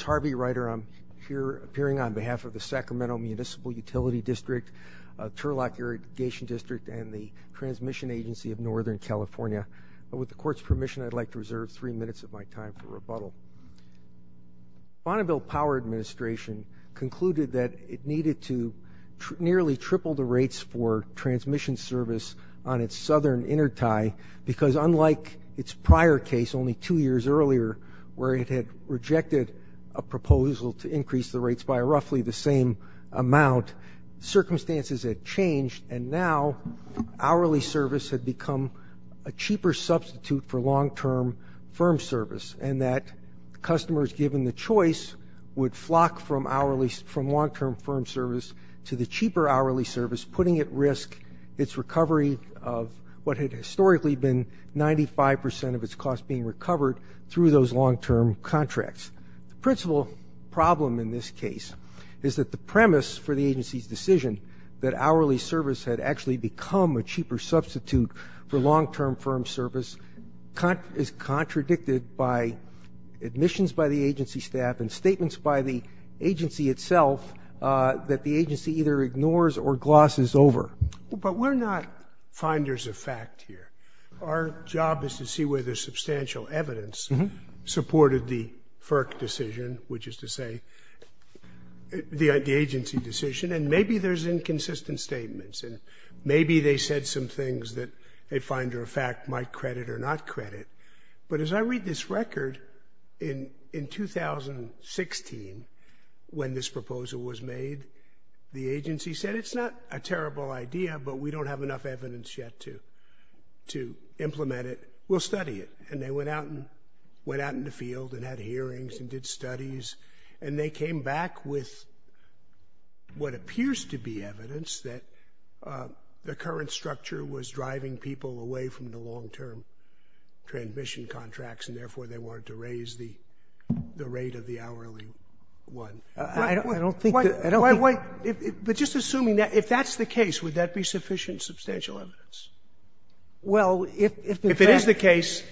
Harvey Reiter on behalf of the Sacramento Municipal Utility District, Turlock Irrigation District, and the Transmission Agency of Northern California. With the Court's permission, I would like to reserve three minutes of my time for rebuttal. The Bonneville Power Administration concluded that it needed to nearly triple the rates for transmission service on its southern intertie, because unlike its prior case, only two years earlier, where it had rejected a proposal to increase the rates by roughly the same amount, circumstances had changed, and now hourly service had become a cheaper substitute for long-term firm service, and that customers given the choice would flock from long-term firm service to the cheaper hourly service, putting at risk its recovery of what had historically been 95 percent of its cost being recovered through those long-term contracts. The principal problem in this case is that the premise for the agency's decision that is contradicted by admissions by the agency staff and statements by the agency itself that the agency either ignores or glosses over. But we're not finders of fact here. Our job is to see whether substantial evidence supported the FERC decision, which is to say the agency decision, and maybe there's inconsistent statements, and maybe they said some things that a finder of fact might credit or not credit. But as I read this record, in 2016, when this proposal was made, the agency said it's not a terrible idea, but we don't have enough evidence yet to implement it. We'll study it. And they went out in the field and had hearings and did studies, and they came back with what was driving people away from the long-term transmission contracts, and therefore they wanted to raise the rate of the hourly one. I don't think that they're going to do that. I don't think that they're going to do that. Roberts. But just assuming that, if that's the case, would that be sufficient substantial evidence? Well, if in fact the case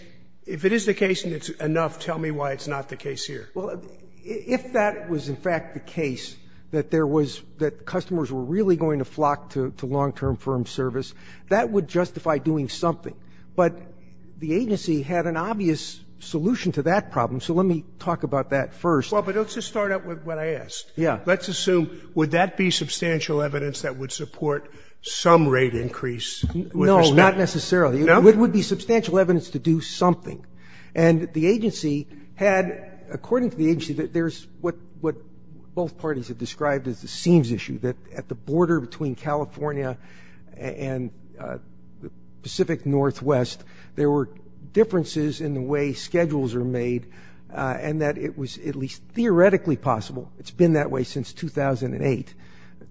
If it is the case and it's enough, tell me why it's not the case here. Well, if that was in fact the case, that there was that customers were really going to flock to long-term firm service, that would justify doing something. But the agency had an obvious solution to that problem, so let me talk about that first. Well, but let's just start out with what I asked. Yeah. Let's assume, would that be substantial evidence that would support some rate increase with respect to No, not necessarily. No? It would be substantial evidence to do something. And the agency had, according to the agency, that there's what both parties have described as the seams issue, that at the border between California and the Pacific Northwest, there were differences in the way schedules are made and that it was at least theoretically possible, it's been that way since 2008,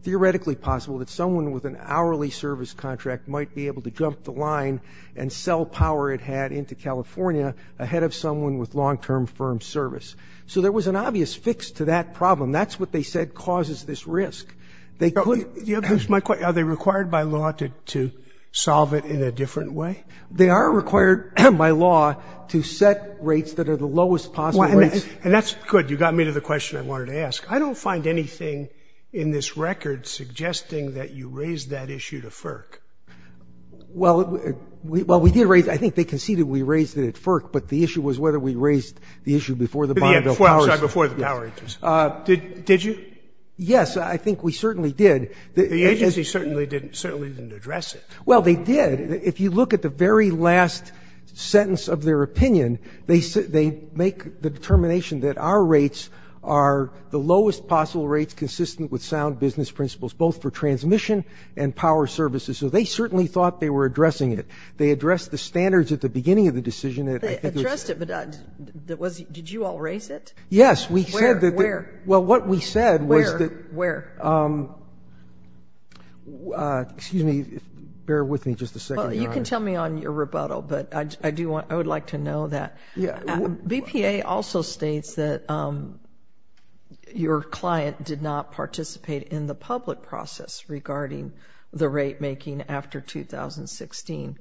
theoretically possible that someone with an hourly service contract might be able to jump the line and sell power it had into California ahead of someone with long-term firm service. So there was an obvious fix to that problem. That's what they said causes this risk. They couldn't. Here's my question. Are they required by law to solve it in a different way? They are required by law to set rates that are the lowest possible rates. And that's good. You got me to the question I wanted to ask. I don't find anything in this record suggesting that you raised that issue to FERC. Well, we did raise it. I think they conceded we raised it at FERC, but the issue was whether we raised the issue before the Bonneville Powers Act. Sorry, before the Power Act. Did you? Yes, I think we certainly did. The agency certainly didn't address it. Well, they did. If you look at the very last sentence of their opinion, they make the determination that our rates are the lowest possible rates consistent with sound business principles, both for transmission and power services. So they certainly thought they were addressing it. They addressed the standards at the beginning of the decision. They addressed it, but did you all raise it? Yes. Where? Well, what we said was that... Where? Where? Excuse me, bear with me just a second, Your Honor. Well, you can tell me on your rebuttal, but I would like to know that. Yeah. BPA also states that your client did not participate in the public process regarding the rate making after 2016.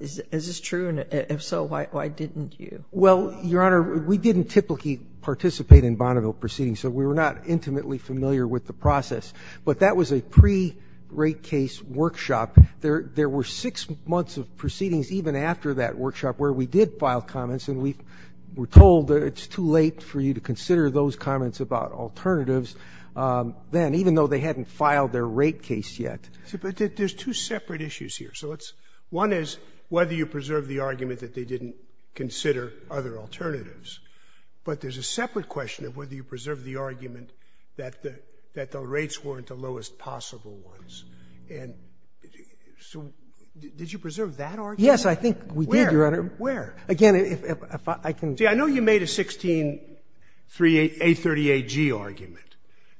Is this true? And if so, why didn't you? Well, Your Honor, we didn't typically participate in Bonneville proceedings, so we were not intimately familiar with the process. But that was a pre-rate case workshop. There were six months of proceedings even after that workshop where we did file comments, and we were told that it's too late for you to consider those comments about alternatives then, even though they hadn't filed their rate case yet. But there's two separate issues here. So one is whether you preserved the argument that they didn't consider other alternatives. But there's a separate question of whether you preserved the argument that the rates weren't the lowest possible ones. And so did you preserve that argument? Yes, I think we did, Your Honor. Where? Where? Again, if I can... See, I know you made a 16-838G argument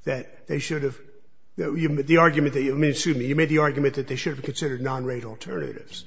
that they should have... The argument that...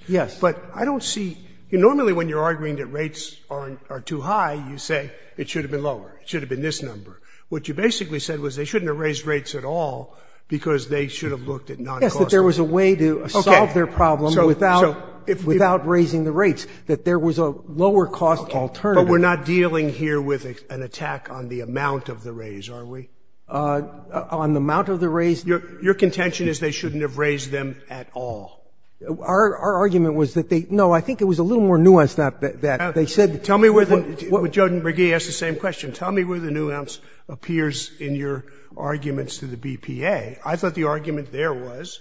Yes. But I don't see... Normally, when you're arguing that rates are too high, you say it should have been lower. It should have been this number. What you basically said was they shouldn't have raised rates at all because they should have looked at non-cost alternatives. Yes, that there was a way to solve their problem without raising the rates, that there was a lower-cost alternative. Okay. But we're not dealing here with an attack on the amount of the raise, are we? On the amount of the raise... Your contention is they shouldn't have raised them at all. Our argument was that they... No, I think it was a little more nuanced, not that. They said... Tell me where the... Joe and McGee asked the same question. Tell me where the nuance appears in your arguments to the BPA. I thought the argument there was,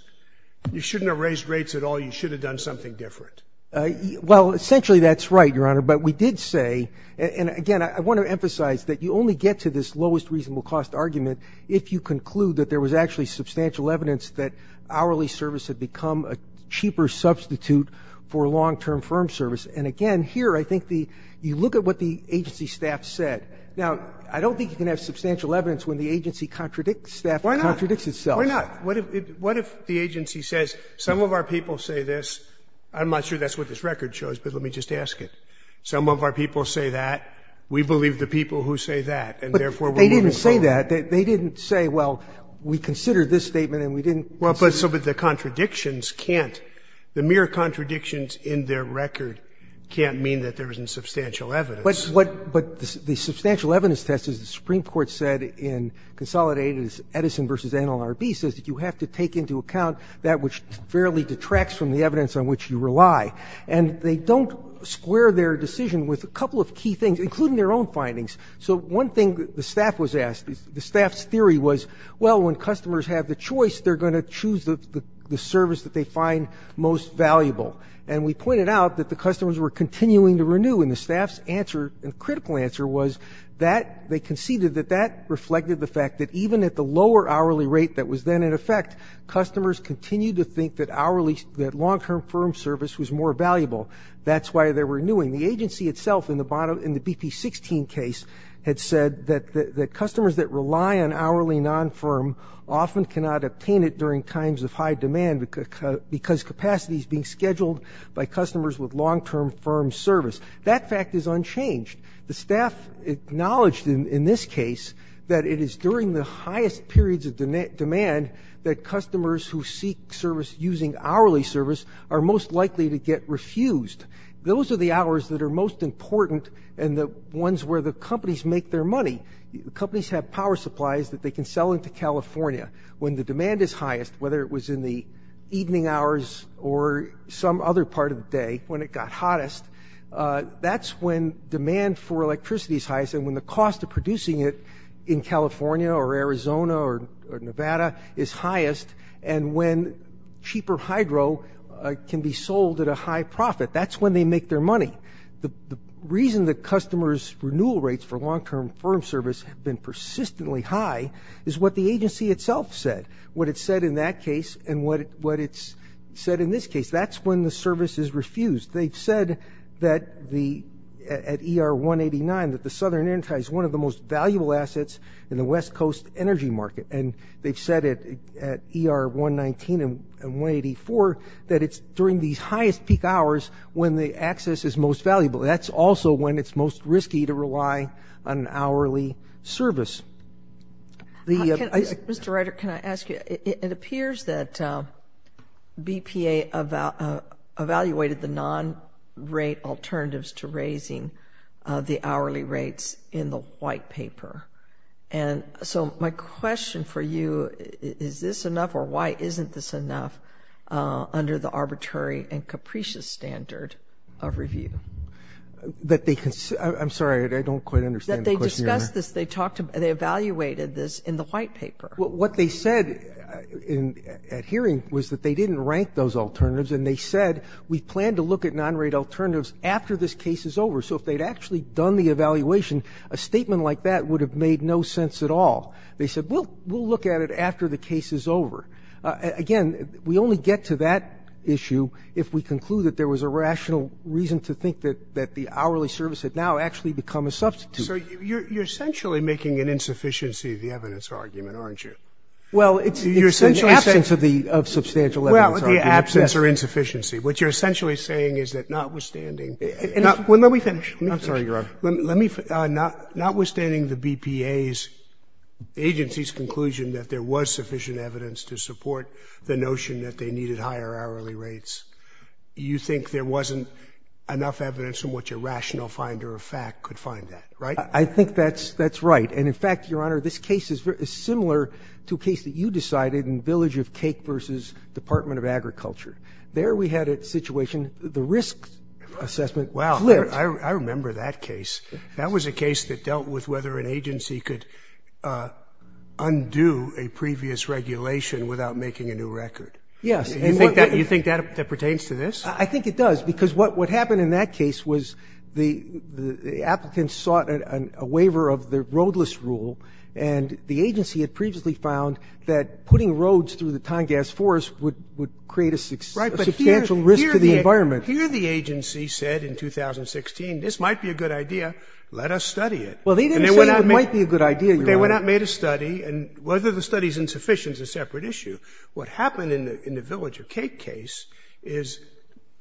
you shouldn't have raised rates at all, you should have done something different. Well, essentially, that's right, Your Honor. But we did say, and again, I want to emphasize that you only get to this lowest reasonable cost argument if you conclude that there was actually substantial evidence that hourly service had become a cheaper substitute for long-term firm service. And again, here, I think the... You look at what the agency staff said. Now, I don't think you can have substantial evidence when the agency contradicts staff... Why not? ...contradicts itself. Why not? What if the agency says, some of our people say this, I'm not sure that's what this record shows, but let me just ask it. Some of our people say that, we believe the people who say that, and therefore... They didn't say that. They didn't say, well, we considered this statement and we didn't consider... Well, but the contradictions can't, the mere contradictions in their record can't mean that there isn't substantial evidence. But the substantial evidence test, as the Supreme Court said in Consolidated is Edison v. NLRB, says that you have to take into account that which fairly detracts from the evidence on which you rely. And they don't square their decision with a couple of key things, including their own findings. So one thing the staff was asked, the staff's theory was, well, when customers have the choice, they're going to choose the service that they find most valuable. And we pointed out that the customers were continuing to renew. And the staff's answer, critical answer, was that they conceded that that reflected the fact that even at the lower hourly rate that was then in effect, customers continued to think that hourly, that long-term firm service was more valuable. That's why they're renewing. The agency itself in the BP-16 case had said that the customers that rely on hourly non-firm often cannot obtain it during times of high demand because capacity is being scheduled by customers with long-term firm service. That fact is unchanged. The staff acknowledged in this case that it is during the highest periods of demand that customers who seek service using hourly service are most likely to get refused. Those are the hours that are most important and the ones where the companies make their money. Companies have power supplies that they can sell into California when the demand is highest, whether it was in the evening hours or some other part of the day when it got hottest. That's when demand for electricity is highest and when the cost of producing it in California or Arizona or Nevada is highest, and when cheaper hydro can be sold at a high profit. That's when they make their money. The reason that customers' renewal rates for long-term firm service have been persistently high is what the agency itself said, what it said in that case and what it's said in this case. That's when the service is refused. They've said that at ER-189 that the Southern Intertie is one of the most valuable assets in the West Coast energy market. And they've said it at ER-119 and 184 that it's during these highest peak hours when the access is most valuable. That's also when it's most risky to rely on an hourly service. Mr. Ryder, can I ask you, it appears that BPA evaluated the non-rate alternatives to raising the hourly rates in the white paper. And so my question for you, is this enough or why isn't this enough under the arbitrary and capricious standard of review? I'm sorry, I don't quite understand the question. They discussed this, they evaluated this in the white paper. What they said at hearing was that they didn't rank those alternatives and they said, we plan to look at non-rate alternatives after this case is over. So if they'd actually done the evaluation, a statement like that would have made no sense at all. They said, we'll look at it after the case is over. Again, we only get to that issue if we conclude that there was a rational reason to think that the hourly service had now actually become a substitute. So you're essentially making an insufficiency of the evidence argument, aren't you? Well, it's the absence of the substantial evidence argument. Well, the absence or insufficiency. What you're essentially saying is that notwithstanding. Let me finish. I'm sorry, Your Honor. Notwithstanding the BPA's agency's conclusion that there was sufficient evidence to support the notion that they needed higher hourly rates, you think there wasn't enough evidence in which a rational finder of fact could find that, right? I think that's right. And in fact, Your Honor, this case is similar to a case that you decided in Village of Cake v. Department of Agriculture. There we had a situation, the risk assessment flipped. Wow. I remember that case. That was a case that dealt with whether an agency could undo a previous regulation without making a new record. Yes. You think that pertains to this? I think it does. Because what happened in that case was the applicants sought a waiver of the roadless rule, and the agency had previously found that putting roads through the Tongass Forest would create a substantial risk to the environment. Right. But here the agency said in 2016, this might be a good idea, let us study it. Well, they didn't say it might be a good idea, Your Honor. They went out and made a study, and whether the study is insufficient is a separate issue. What happened in the Village of Cake case is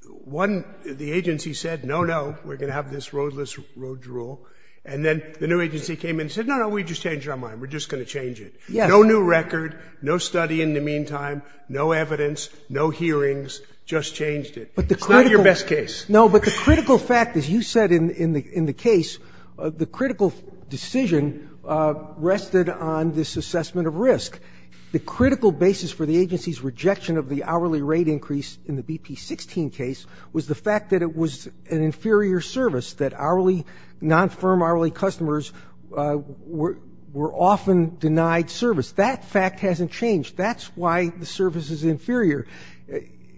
one, the agency said, no, no, we're going to have this roadless road rule. And then the new agency came in and said, no, no, we just changed our mind. We're just going to change it. Yes. No new record, no study in the meantime, no evidence, no hearings, just changed it. It's not your best case. No, but the critical fact, as you said in the case, the critical decision rested on this assessment of risk. The critical basis for the agency's rejection of the hourly rate increase in the BP-16 case was the fact that it was an inferior service, that hourly, non-firm hourly customers were often denied service. That fact hasn't changed. That's why the service is inferior.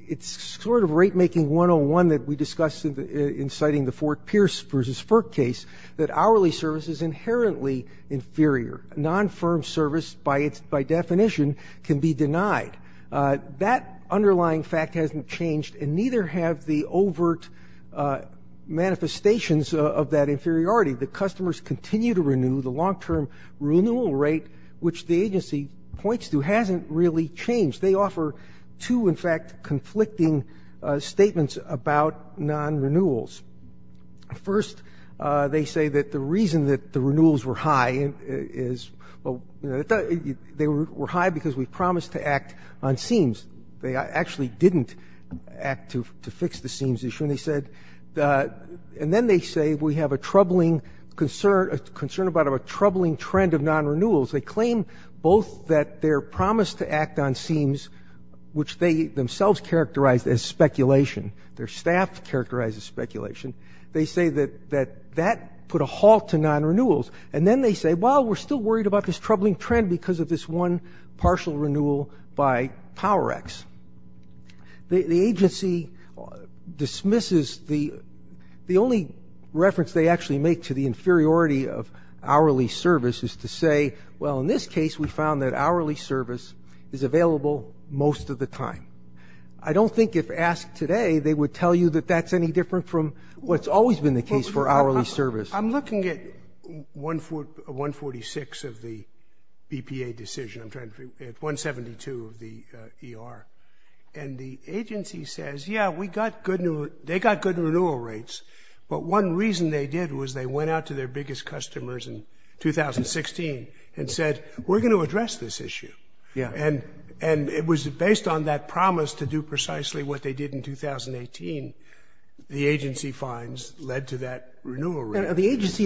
It's sort of rate-making 101 that we discussed in citing the Fort Pierce v. Firk case, that hourly service is inherently inferior. Non-firm service, by definition, can be denied. That underlying fact hasn't changed, and neither have the overt manifestations of that inferiority. The fact is, however, that customers continue to renew the long-term renewal rate, which the agency points to, hasn't really changed. They offer two, in fact, conflicting statements about non-renewals. First, they say that the reason that the renewals were high is, well, they were high because we promised to act on seams. They actually didn't act to fix the seams issue. And then they say, we have a troubling concern about a troubling trend of non-renewals. They claim both that their promise to act on seams, which they themselves characterized as speculation, their staff characterized as speculation, they say that that put a halt to non-renewals. And then they say, well, we're still worried about this troubling trend because of this one partial renewal by PowerX. The agency dismisses the only reference they actually make to the inferiority of hourly service is to say, well, in this case, we found that hourly service is available most of the time. I don't think if asked today, they would tell you that that's any different from what's always been the case for hourly service. I'm looking at 146 of the BPA decision, 172 of the ER. And the agency says, yeah, they got good renewal rates. But one reason they did was they went out to their biggest customers in 2016 and said, we're going to address this issue. And it was based on that promise to do precisely what they did in 2018, the agency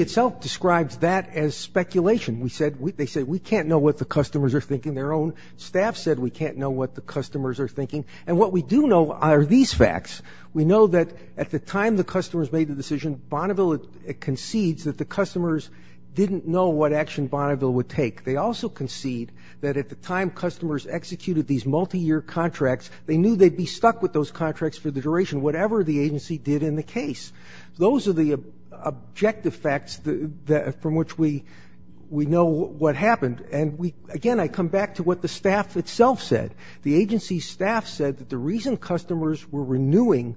itself describes that as speculation. They said, we can't know what the customers are thinking. Their own staff said we can't know what the customers are thinking. And what we do know are these facts. We know that at the time the customers made the decision, Bonneville concedes that the customers didn't know what action Bonneville would take. They also concede that at the time customers executed these multiyear contracts, they knew they'd be stuck with those contracts for the duration, whatever the agency did in the case. Those are the objective facts from which we know what happened. And again, I come back to what the staff itself said. The agency staff said that the reason customers were renewing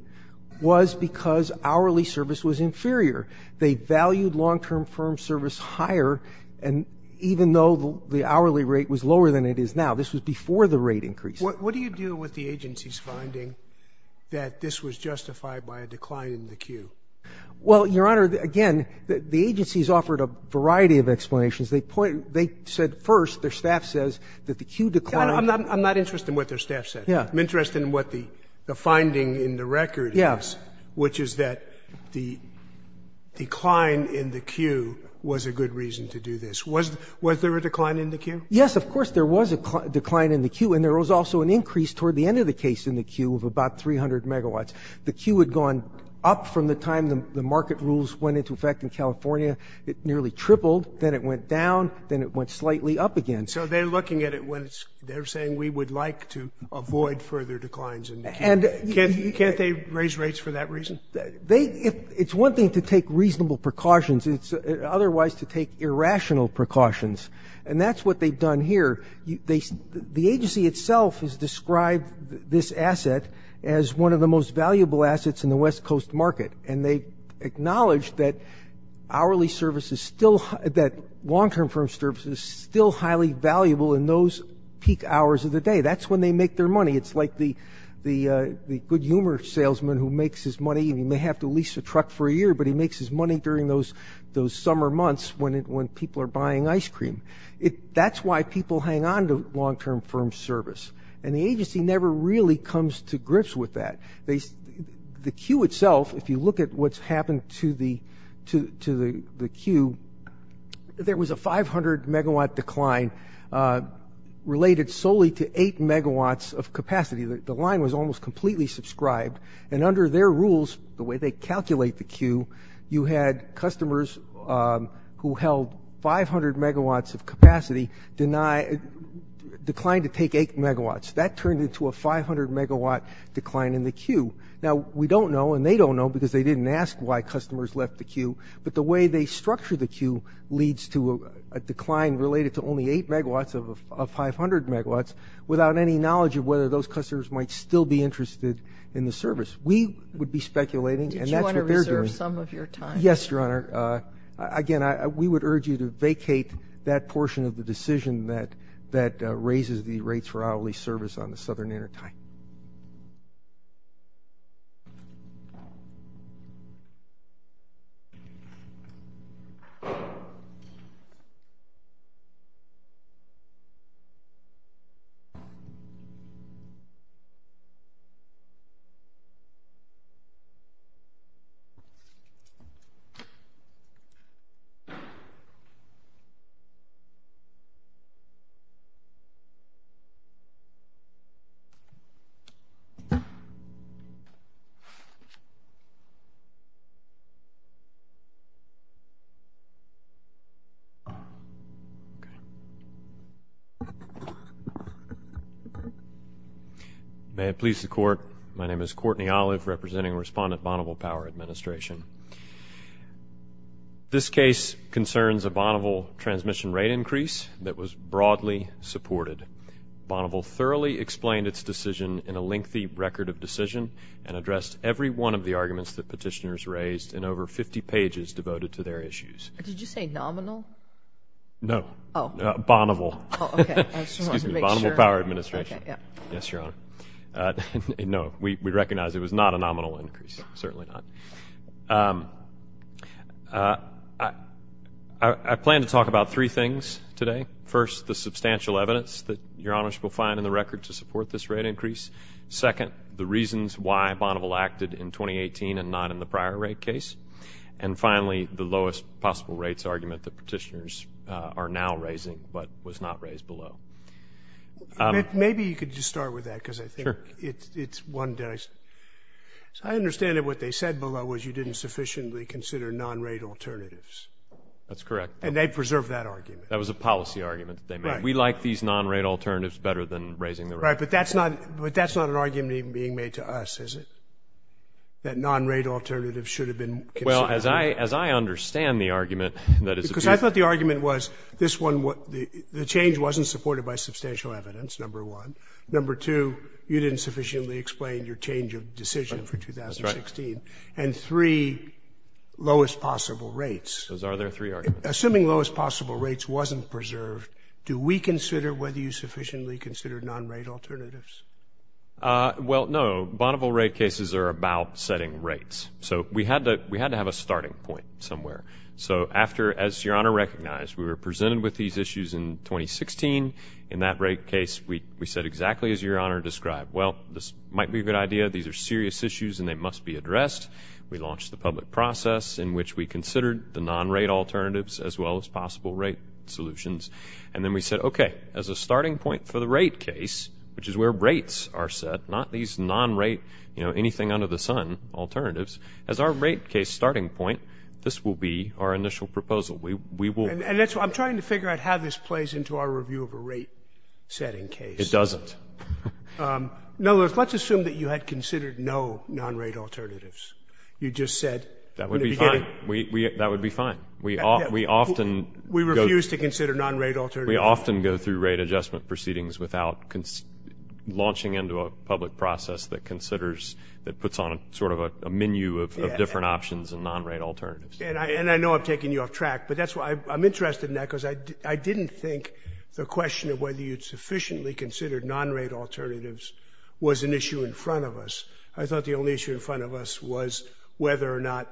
was because hourly service was inferior. They valued long-term firm service higher, and even though the hourly rate was lower than it is now, this was before the rate increase. What do you do with the agency's finding that this was justified by a decline in the Q? Well, Your Honor, again, the agency's offered a variety of explanations. They said first, their staff says that the Q declined. I'm not interested in what their staff said. I'm interested in what the finding in the record is, which is that the decline in the Q was a good reason to do this. Was there a decline in the Q? Yes, of course there was a decline in the Q, and there was also an increase toward the end of the case in the Q of about 300 megawatts. The Q had gone up from the time the market rules went into effect in California. It nearly tripled. Then it went down. Then it went slightly up again. So they're looking at it when they're saying, we would like to avoid further declines in the Q. Can't they raise rates for that reason? It's one thing to take reasonable precautions. It's otherwise to take irrational precautions. And that's what they've done here. The agency itself has described this asset as one of the most valuable assets in the West Coast market, and they acknowledge that hourly service is still – that long-term firm service is still highly valuable in those peak hours of the day. That's when they make their money. It's like the good humor salesman who makes his money. He may have to lease a truck for a year, but he makes his money during those summer months when people are buying ice cream. That's why people hang on to long-term firm service. And the agency never really comes to grips with that. The Q itself, if you look at what's happened to the Q, there was a 500-megawatt decline related solely to 8 megawatts of capacity. The line was almost completely subscribed. And under their rules, the way they calculate the Q, you had customers who held 500 megawatts of capacity decline to take 8 megawatts. That turned into a 500-megawatt decline in the Q. Now, we don't know, and they don't know because they didn't ask why customers left the Q, but the way they structure the Q leads to a decline related to only 8 megawatts of 500 megawatts without any knowledge of whether those customers might still be interested in the service. We would be speculating, and that's what they're doing. Yes, Your Honor. Again, we would urge you to vacate that portion of the decision that raises the rates for hourly service on the Southern Intertie. Thank you. May it please the Court, My name is Courtney Olive, representing Respondent Bonneville Power Administration. This case concerns a Bonneville transmission rate increase that was broadly supported. Bonneville thoroughly explained its decision in a lengthy record of decision and addressed every one of the arguments that petitioners raised in over 50 pages devoted to their issues. Did you say nominal? No. Bonneville. Excuse me. Bonneville Power Administration. Yes, Your Honor. No, we recognize it was not a nominal increase, certainly not. I plan to talk about three things today. First, the substantial evidence that Your Honors will find in the record to support this rate increase. Second, the reasons why Bonneville acted in 2018 and not in the prior rate case. And finally, the lowest possible rates argument that petitioners are now raising but was not raised below. Maybe you could just start with that because I think it's one that I... I understand that what they said below was you didn't sufficiently consider non-rate alternatives. That's correct. And they preserved that argument. That was a policy argument that they made. We like these non-rate alternatives better than raising the rate. Right, but that's not an argument even being made to us, is it? That non-rate alternatives should have been considered. Well, as I understand the argument that is... Because I thought the argument was this one... The change wasn't supported by substantial evidence, number one. Number two, you didn't sufficiently explain your change of decision for 2016. And three, lowest possible rates. Those are their three arguments. Assuming lowest possible rates wasn't preserved, do we consider whether you sufficiently considered non-rate alternatives? Well, no. Bonneville rate cases are about setting rates. So we had to have a starting point somewhere. So after... As Your Honor recognized, we were presented with these issues in 2016. In that rate case, we said exactly as Your Honor described. Well, this might be a good idea. These are serious issues and they must be addressed. We launched the public process in which we considered the non-rate alternatives as well as possible rate solutions. And then we said, okay, as a starting point for the rate case, which is where rates are set, not these non-rate, you know, anything under the sun alternatives. As our rate case starting point, this will be our initial proposal. We will... And that's why I'm trying to figure out how this plays into our review of a rate setting case. It doesn't. Now, let's assume that you had considered no non-rate alternatives. You just said... That would be fine. We... That would be fine. We often... We refuse to consider non-rate alternatives. We often go through rate adjustment proceedings without launching into a public process that considers... that puts on sort of a menu of different options and non-rate alternatives. And I know I'm taking you off track, but that's why... I'm interested in that because I didn't think the question of whether you'd sufficiently considered non-rate alternatives was an issue in front of us. I thought the only issue in front of us was whether or not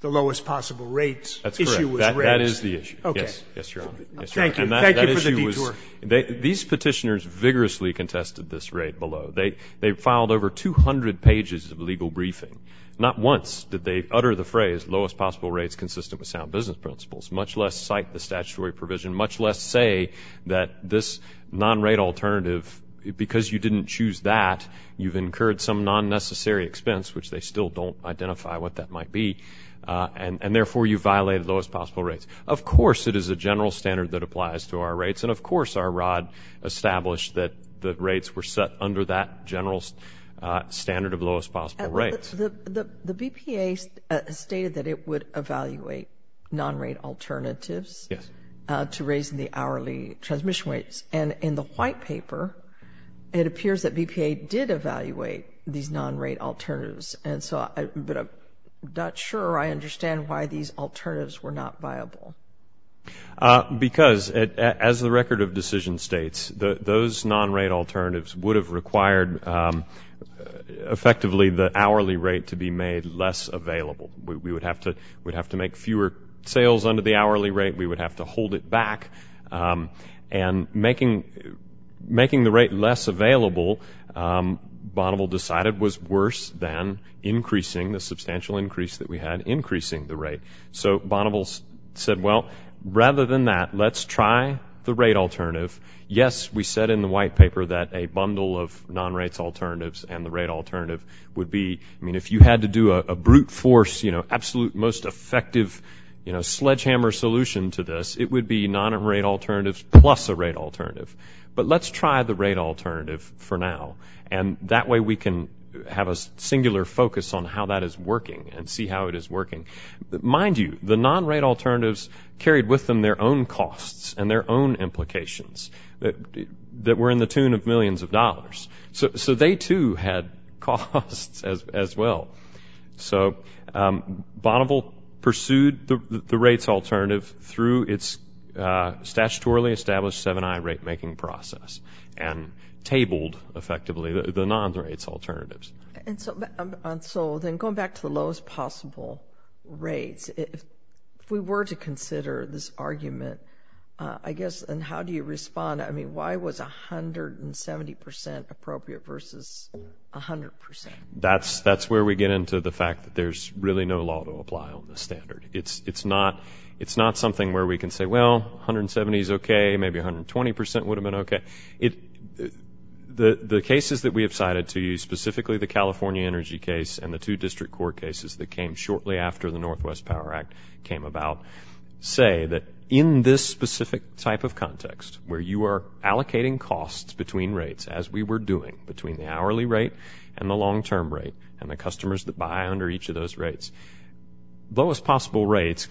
the lowest possible rates... That's correct. ...issue was rates. That is the issue. Okay. Yes, Your Honor. Thank you. Thank you for the detour. And that issue was... These petitioners vigorously contested this rate below. They filed over 200 pages of legal briefing. Not once did they utter the phrase lowest possible rates consistent with sound business principles, much less cite the statutory provision, much less say that this non-rate alternative... Because you didn't choose that, you've incurred some non-necessary expense, which they still don't identify what that might be. And therefore, you violated lowest possible rates. Of course, it is a general standard that applies to our rates. And of course, our rod established that rates were set under that general standard of lowest possible rates. The BPA stated that it would evaluate non-rate alternatives to raising the hourly transmission rates. Yes. And in the white paper, it appears that BPA did evaluate these non-rate alternatives. Because, as the record of decision states, those non-rate alternatives were set under the general standard of lowest possible rates. And the BPA stated that it would evaluate those non-rate alternatives would have required effectively the hourly rate to be made less available. We would have to make fewer sales under the hourly rate. We would have to hold it back. And making the rate less available, Bonneville decided was worse than increasing the substantial increase that we had increasing the rate. So Bonneville said, well, rather than that, let's try the rate alternative. Yes, we said in the white paper that a bundle of non-rate alternatives and the rate alternative would be, I mean, if you had to do a brute force, you know, absolute most effective sledgehammer solution to this, it would be non-rate alternatives plus a rate alternative. But let's try the rate alternative for now. And that way we can have a singular focus on how that is working and see how it is working. Mind you, the non-rate alternatives carried with them their own costs and their own implications that were in the tune of millions of dollars. So they too had costs as well. So Bonneville pursued the rates alternative through its statutorily established 7i rate-making process and tabled effectively the non-rates alternatives. And so going back to the lowest possible rates, if we were to consider this argument, I guess, and how do you respond? I mean, why was 170% appropriate versus 100%? That's where we get into the fact that there's really no law to apply on the standard. It's not something where we can say, well, 170 is okay, maybe 120% would have been okay. The cases that we have cited to you, specifically the California Energy case and the two district court cases that came shortly after the Northwest Power Act came about say that in this specific type of context where you are allocating costs between rates as we were doing between the hourly rate and the long-term rate and the customers that buy under each of those rates, lowest possible rate. If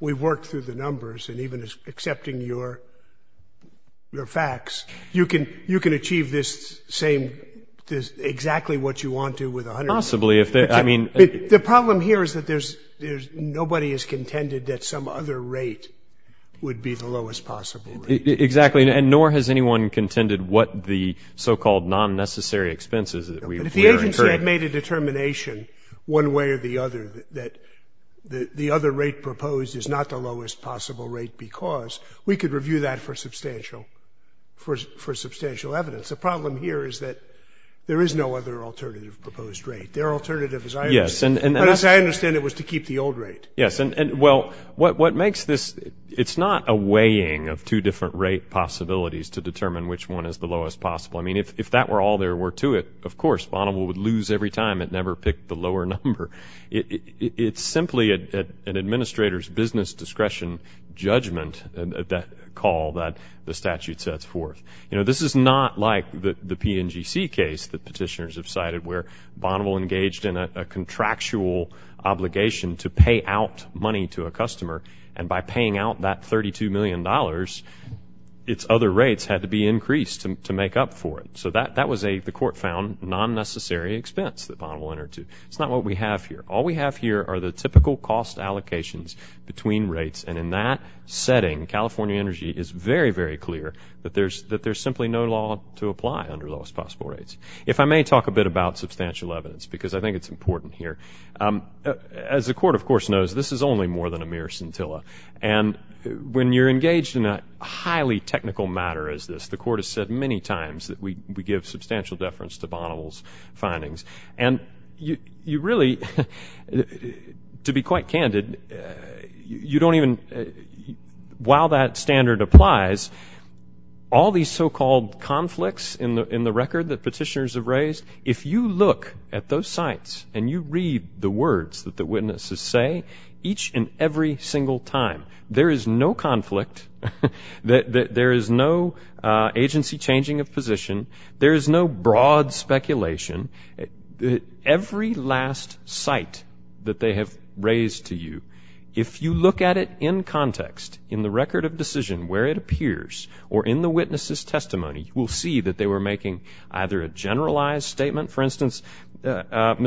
you work through the numbers and even accepting your facts, you can achieve exactly what you want to with 100%. The problem here is that nobody has contended that some other rate would be the lowest possible rate. Exactly. Nor has anyone contended what the so-called non-necessary that we incurred. But if the agency had made a determination one way or the other that the other rate proposed is not the lowest possible rate because we could review that for substantial evidence. The problem here is that there is no other rate. If that were all there were to it, Bonneville would lose every time it never picked the lower number. It is simply an administrator's business discretion judgment that the statute sets forth. This is not like the PNGC case that petitioners have cited where Bonneville engaged in a contractual obligation to pay out money to a customer and by paying out that 32 million dollars its other rates had to be increased to make up for it. That was a non-necessary expense. It is not what we have here. All we have here are the typical cost allocations between rates. In that setting California energy is very clear that there is no law to give substantial to Bonneville's findings. To be quite candid while that standard applies all these so-called conflicts in the record that petitioners have raised if you look at those sites and you read the words that the witnesses say each and every single time there is no conflict there is no agency changing of position there is no broad speculation every last time the witnesses have raised to you. If you look at it in context in the record of decision where it appears or in the witnesses testimony you will see they were making a general statement for instance they admitted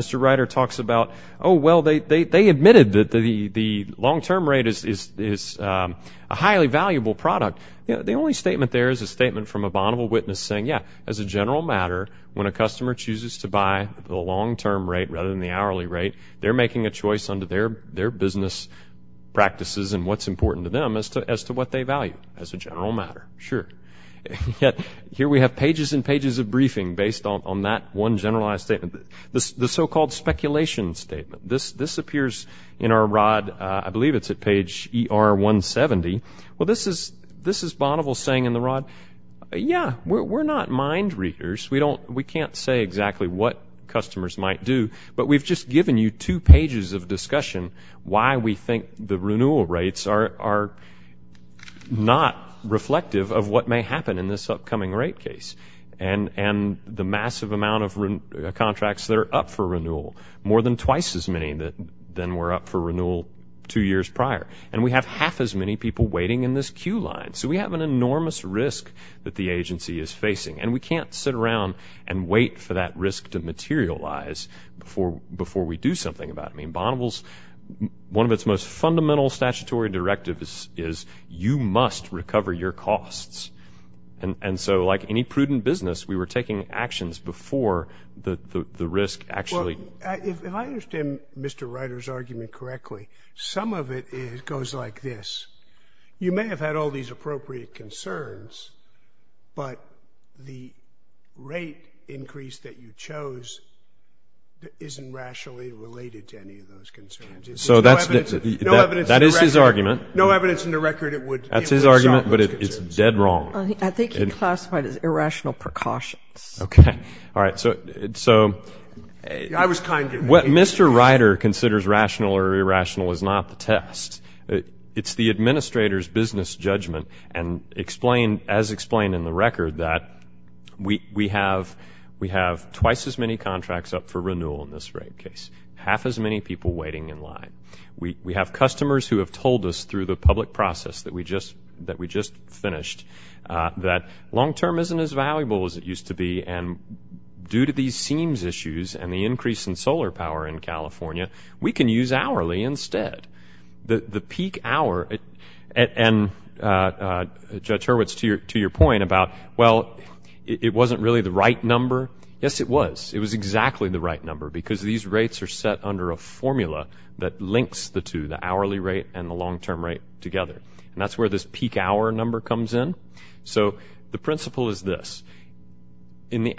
the long term rate is a highly valuable product the only statement from a witness saying as a general matter when a customer chooses to buy the long term rate they are making a choice under their business practices as to what they value as a general matter. Here we have pages and pages of briefing based on that general statement the speculation statement this appears in page ER 170 this is Bonneville saying yeah we are not mind readers we have given you two pages of discussion why we think the renewal rates are not reflective of what may happen in this upcoming rate case and the massive amount of contracts that are up for renewal more than twice as many than were before the risk actually if I understand Mr. Writer's argument correctly some of it goes like this you may have had all these appropriate concerns but the rate increase that you chose isn't rationally related to any of those concerns that Mr. Writer considers rational or irrational is not the test it's the administrator's business judgment and explained as explained in the record that we have twice as many contracts up for renewal in this rate case half as many people waiting in line we have customers who have told us through the public process that we just finished that long term isn't as valuable as it used to be and due to these seams issues and the increase in solar power in California we can use hourly instead the peak hour and Judge Hurwitz to your point about well it wasn't really the right number yes it was it was exactly the right number because these rates are set under a formula that links the two the hourly rate and the long term rate together and that's where this peak hour number comes in so the principle is this in the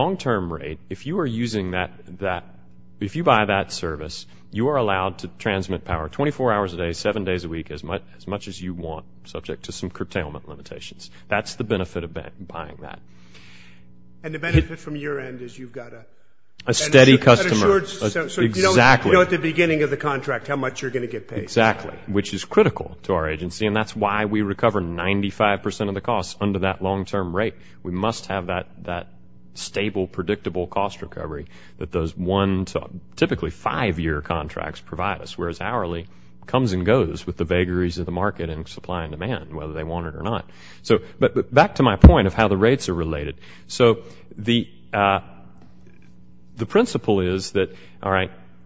long term rate if you are using that if you buy that service you are allowed to transmit power 24 hours a day seven days a week that's the benefit of buying that a steady customer exactly which is critical to our agency and that's why we recover 95% of the cost under that long term rate we must have that stable predictable cost recovery typically five year contracts the principle is that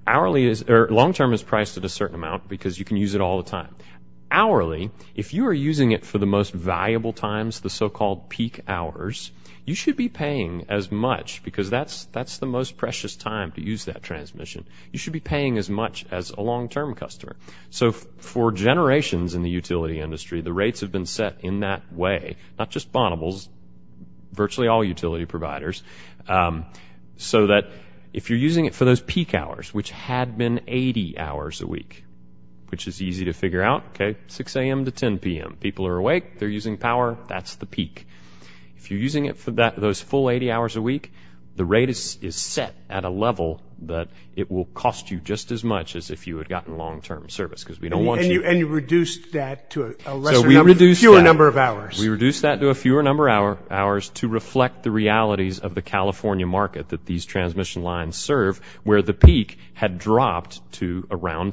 hourly or long term is priced certain amount because you can use it all the time hourly if you are using it for the most long term customer for generations the rates have been set in that way so that if you are using it for those peak hours which had been 80 hours a week which if you had gotten long term service we reduced that to a fewer number of hours to reflect the realities of the California market where the peak had dropped to 10 p.m.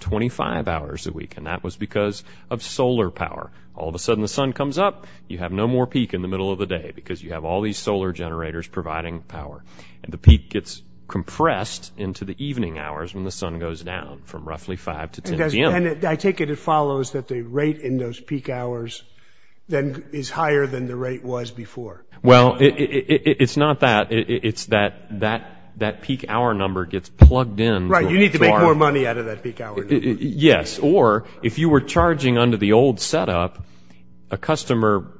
from roughly 5 to 10 p.m. I take it it follows that the rate in those peak hours is higher than the rate was before well it's not that it's that that peak hour number gets plugged in you need to make more money yes or if you were charging under the old setup a customer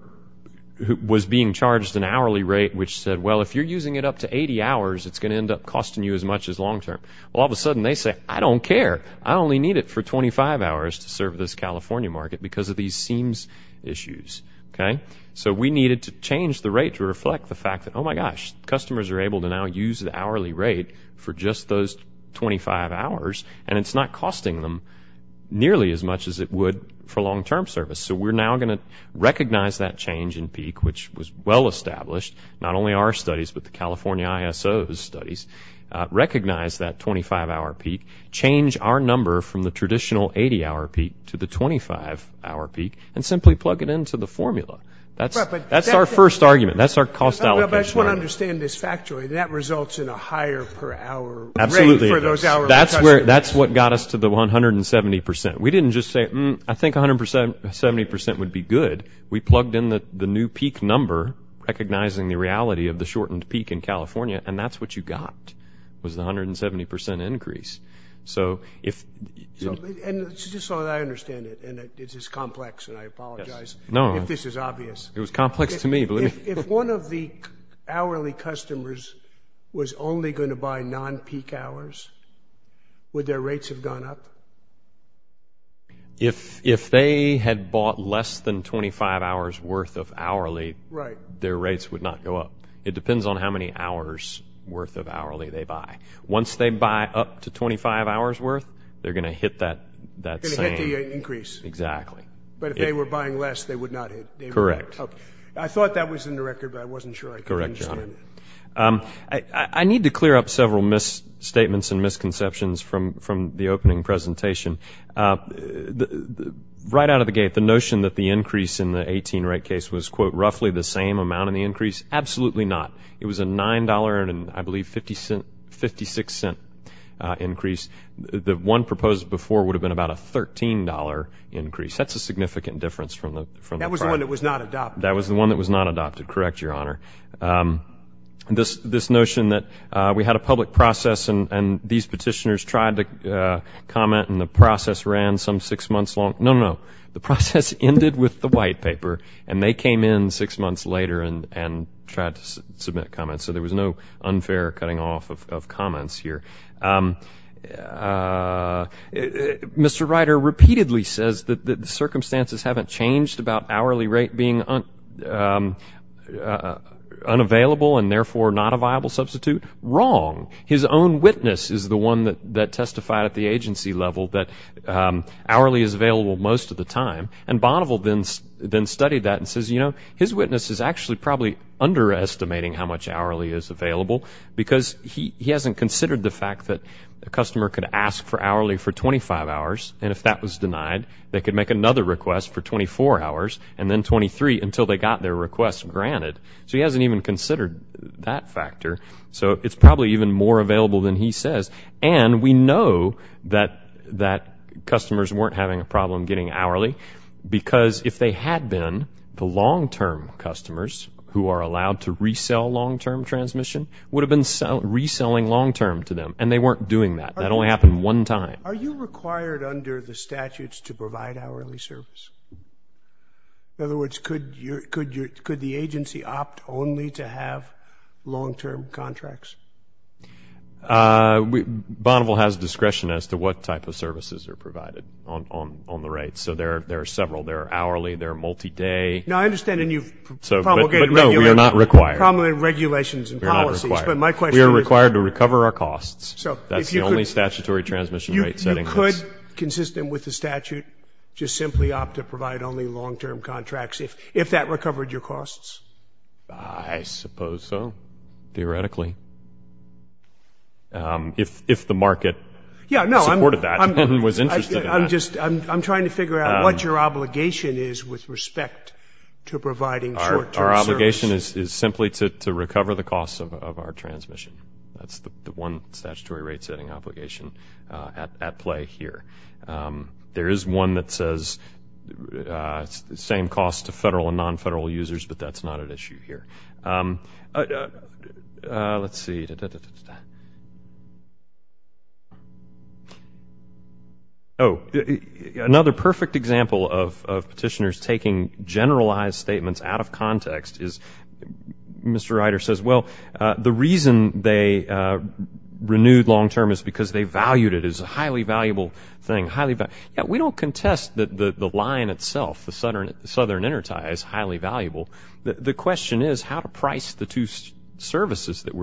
was being charged an hourly rate which said well if you're using it up to 25 hours and it's not costing them nearly as much as it would for long term service so we're now going to recognize that change in peak which was well established not only our studies but the that's what got us to the 170% we didn't just say I think 170% would be good we plugged in the new peak number recognizing the reality of the shortened peak in California and that's what got recognize that change in peak would their rates have gone up if they had bought less than 25 hours worth of hourly their rates would not go up it depends on how many hours worth of hourly they buy once they buy up to 25 hours worth they are going to hit that increase exactly correct I think it was a $9.56 increase the one proposed before would have been a $13 increase that was not adopted correct your honor this notion that we had a public process and these petitioners tried to comment and the process ended with the white paper and they came in six months later and tried to submit comments so there was no change in the rate being unavailable and therefore not a viable substitute wrong his own witness is the one that testified at the agency level that hourly is available most of the time and studied that and says his witness is probably underestimating how much hourly is available because he hasn't considered the fact that the customer could ask for twenty five hours and twenty three until they got their request granted so it's probably more available than he says and we know that customers weren't having a problem getting hourly because if they had been the long term customers who are allowed to resell long term transmission would have been reselling long term to them and they weren't doing that that only happened one time are you required under the statutes to provide hourly service in other words could the agency opt only to have long term contracts Bonneville has discretion as to what type of services are provided on the rates so there are several hourly multi day no we are not required to recover costs that is the only statutory transmission rate setting you could provide only long term contracts if that recovered your costs I suppose so theoretically if the market supported that I'm trying to figure out what your obligation is with respect to providing short term the obligation is simply to recover the costs of our that's the one statutory rate setting obligation at play here there is one that says same cost to federal and non-federal users but that's not an issue here let's see oh another perfect example of petitioners taking generalized statements out of context is Mr. Ryder says well the reason they renewed long term is because they valued it as a highly valuable thing we don't contest that the line itself is highly valuable the question is how to price the two services that so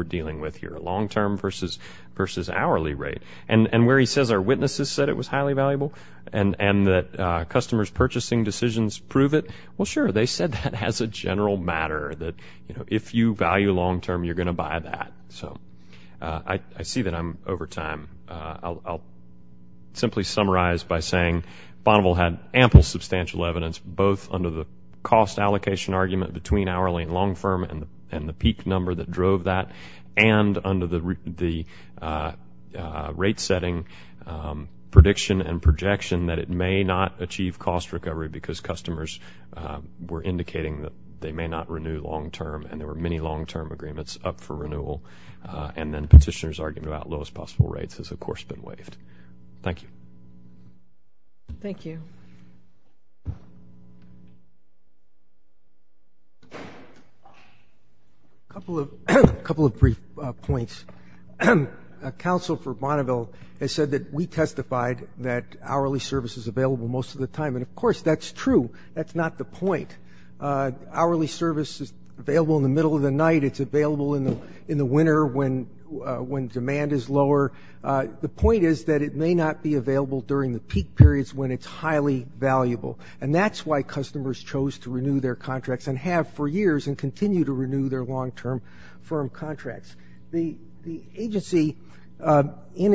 I see that I'm over time I'll simply summarize by saying Bonneville had ample substantial evidence both under the cost allocation argument between hourly and long firm and the peak number that drove that and under the rate setting prediction and projection that it may not achieve cost recovery because the customers were indicating that they may not renew long term and there were many long term agreements up for renewal and then petitioners argument about lowest possible rates has of course been waived thank you thank you a couple of a couple of brief points council for Bonneville said we testified that hourly service is available most of the time that's true that's not the point hourly service is available in the winter when demand is lower it may not be available when it's highly valuable that's why customers chose to renew their contracts and have for years and continue to renew their long term firm contracts the agency in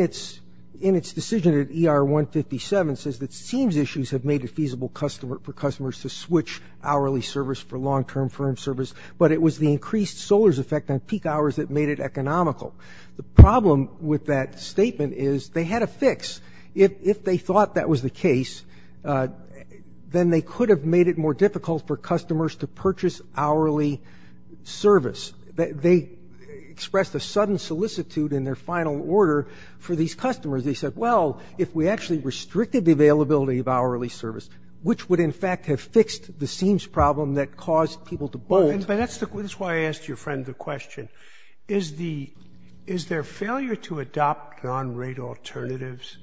its decision ER157 says it seems issues have made it feasible for customers to switch hourly service for long term firm service but it was the increased effect on peak hours that made it economical the problem with that statement is they had a fix if they thought that was the case then they could have made it more difficult for customers to purchase hourly service they expressed a sudden solicitude in their final order for these customers they said well if we actually restricted the availability of hourly service which would in fact have fixed the seems problem that caused people to bone is their failure to adopt non-rate alternatives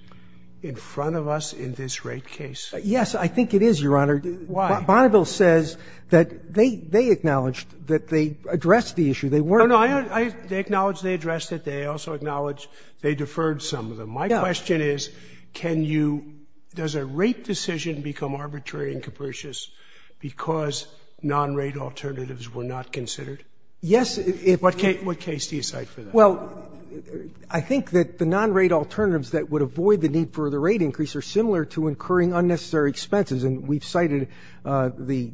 in front of us in this rate case yes I think it is a case that the rate alternatives were not considered yes it was a case you cite for them I think that the non-rate alternatives that would avoid the need for the rate increase are similar to incurring unnecessary expenses and we've cited the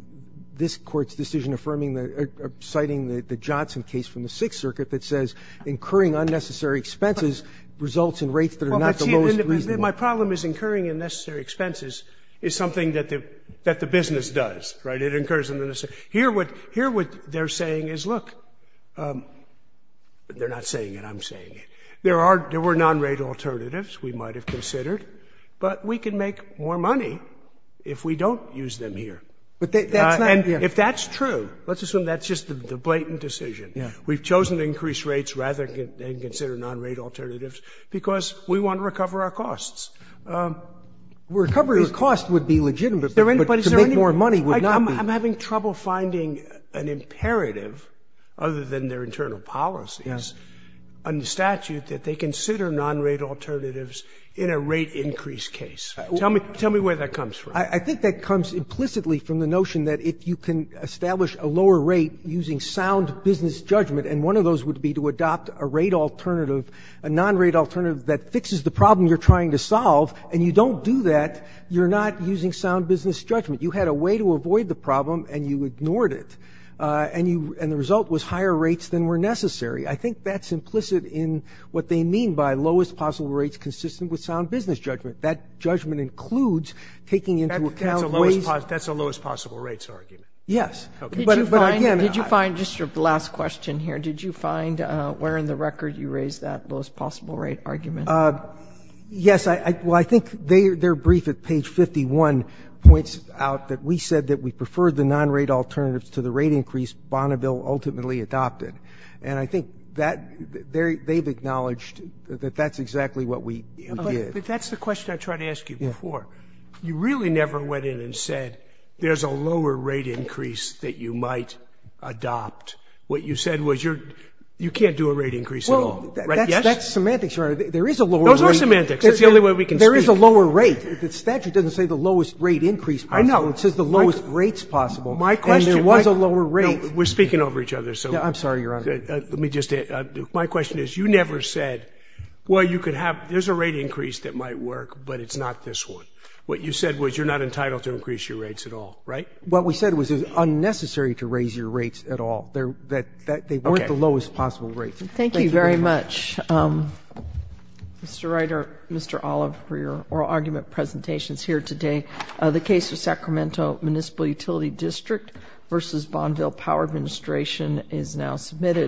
this court's decision affirming the citing the Johnson case from the 6th circuit that says incurring unnecessary expenses results in rates that are not the most reasonable cases. My problem is incurring unnecessary expenses is something that the business does. Here what they're saying is look they're not saying it. There were non-rate alternatives because we want to recover our costs. I'm having trouble finding an imperative other than their internal policies under statute that they consider non-rate alternatives in a rate increase case. Tell me where that comes from. I think that comes implicitly from the notion that if you can establish a lower rate using sound business judgment and one of those would be to adopt a rate alternative that fixes the problem you're trying to solve and you don't do that you're not using sound business judgment. You had a way to avoid the problem and you ignored it. And the result was higher rates than were necessary. I think that's implicit in what they mean by lowest possible rates consistent with sound business judgment. That includes taking into account the fact that the rate alternatives are not the best alternatives to the rate increase Bonneville ultimately adopted. And I think they've acknowledged that that's exactly what we did. That's the question I tried to ask you before. You really never went in and said there's a lower rate increase that you might adopt. What you said was you can't do a rate increase at all. Right? Yes? That's semantics, Your Honor. There is a lower rate. Those are semantics. That's the only way we can speak. There is a lower rate. The statute doesn't say the lowest rate increase possible. It says the lowest rates possible. We're speaking over each other. My question is, you never said there's a rate increase that might work, but it's not this one. What you said was you're not entitled to increase your rates at all. What we said was it's unnecessary to raise your rates at all. They weren't the lowest rate you were entitled to. What Judge. Thank you, Mr. Judge. All right. Let's get back to the closing argument, the statute. It says that it wouldn't that it would not be a crime to have a wife. The statute says that it would not be a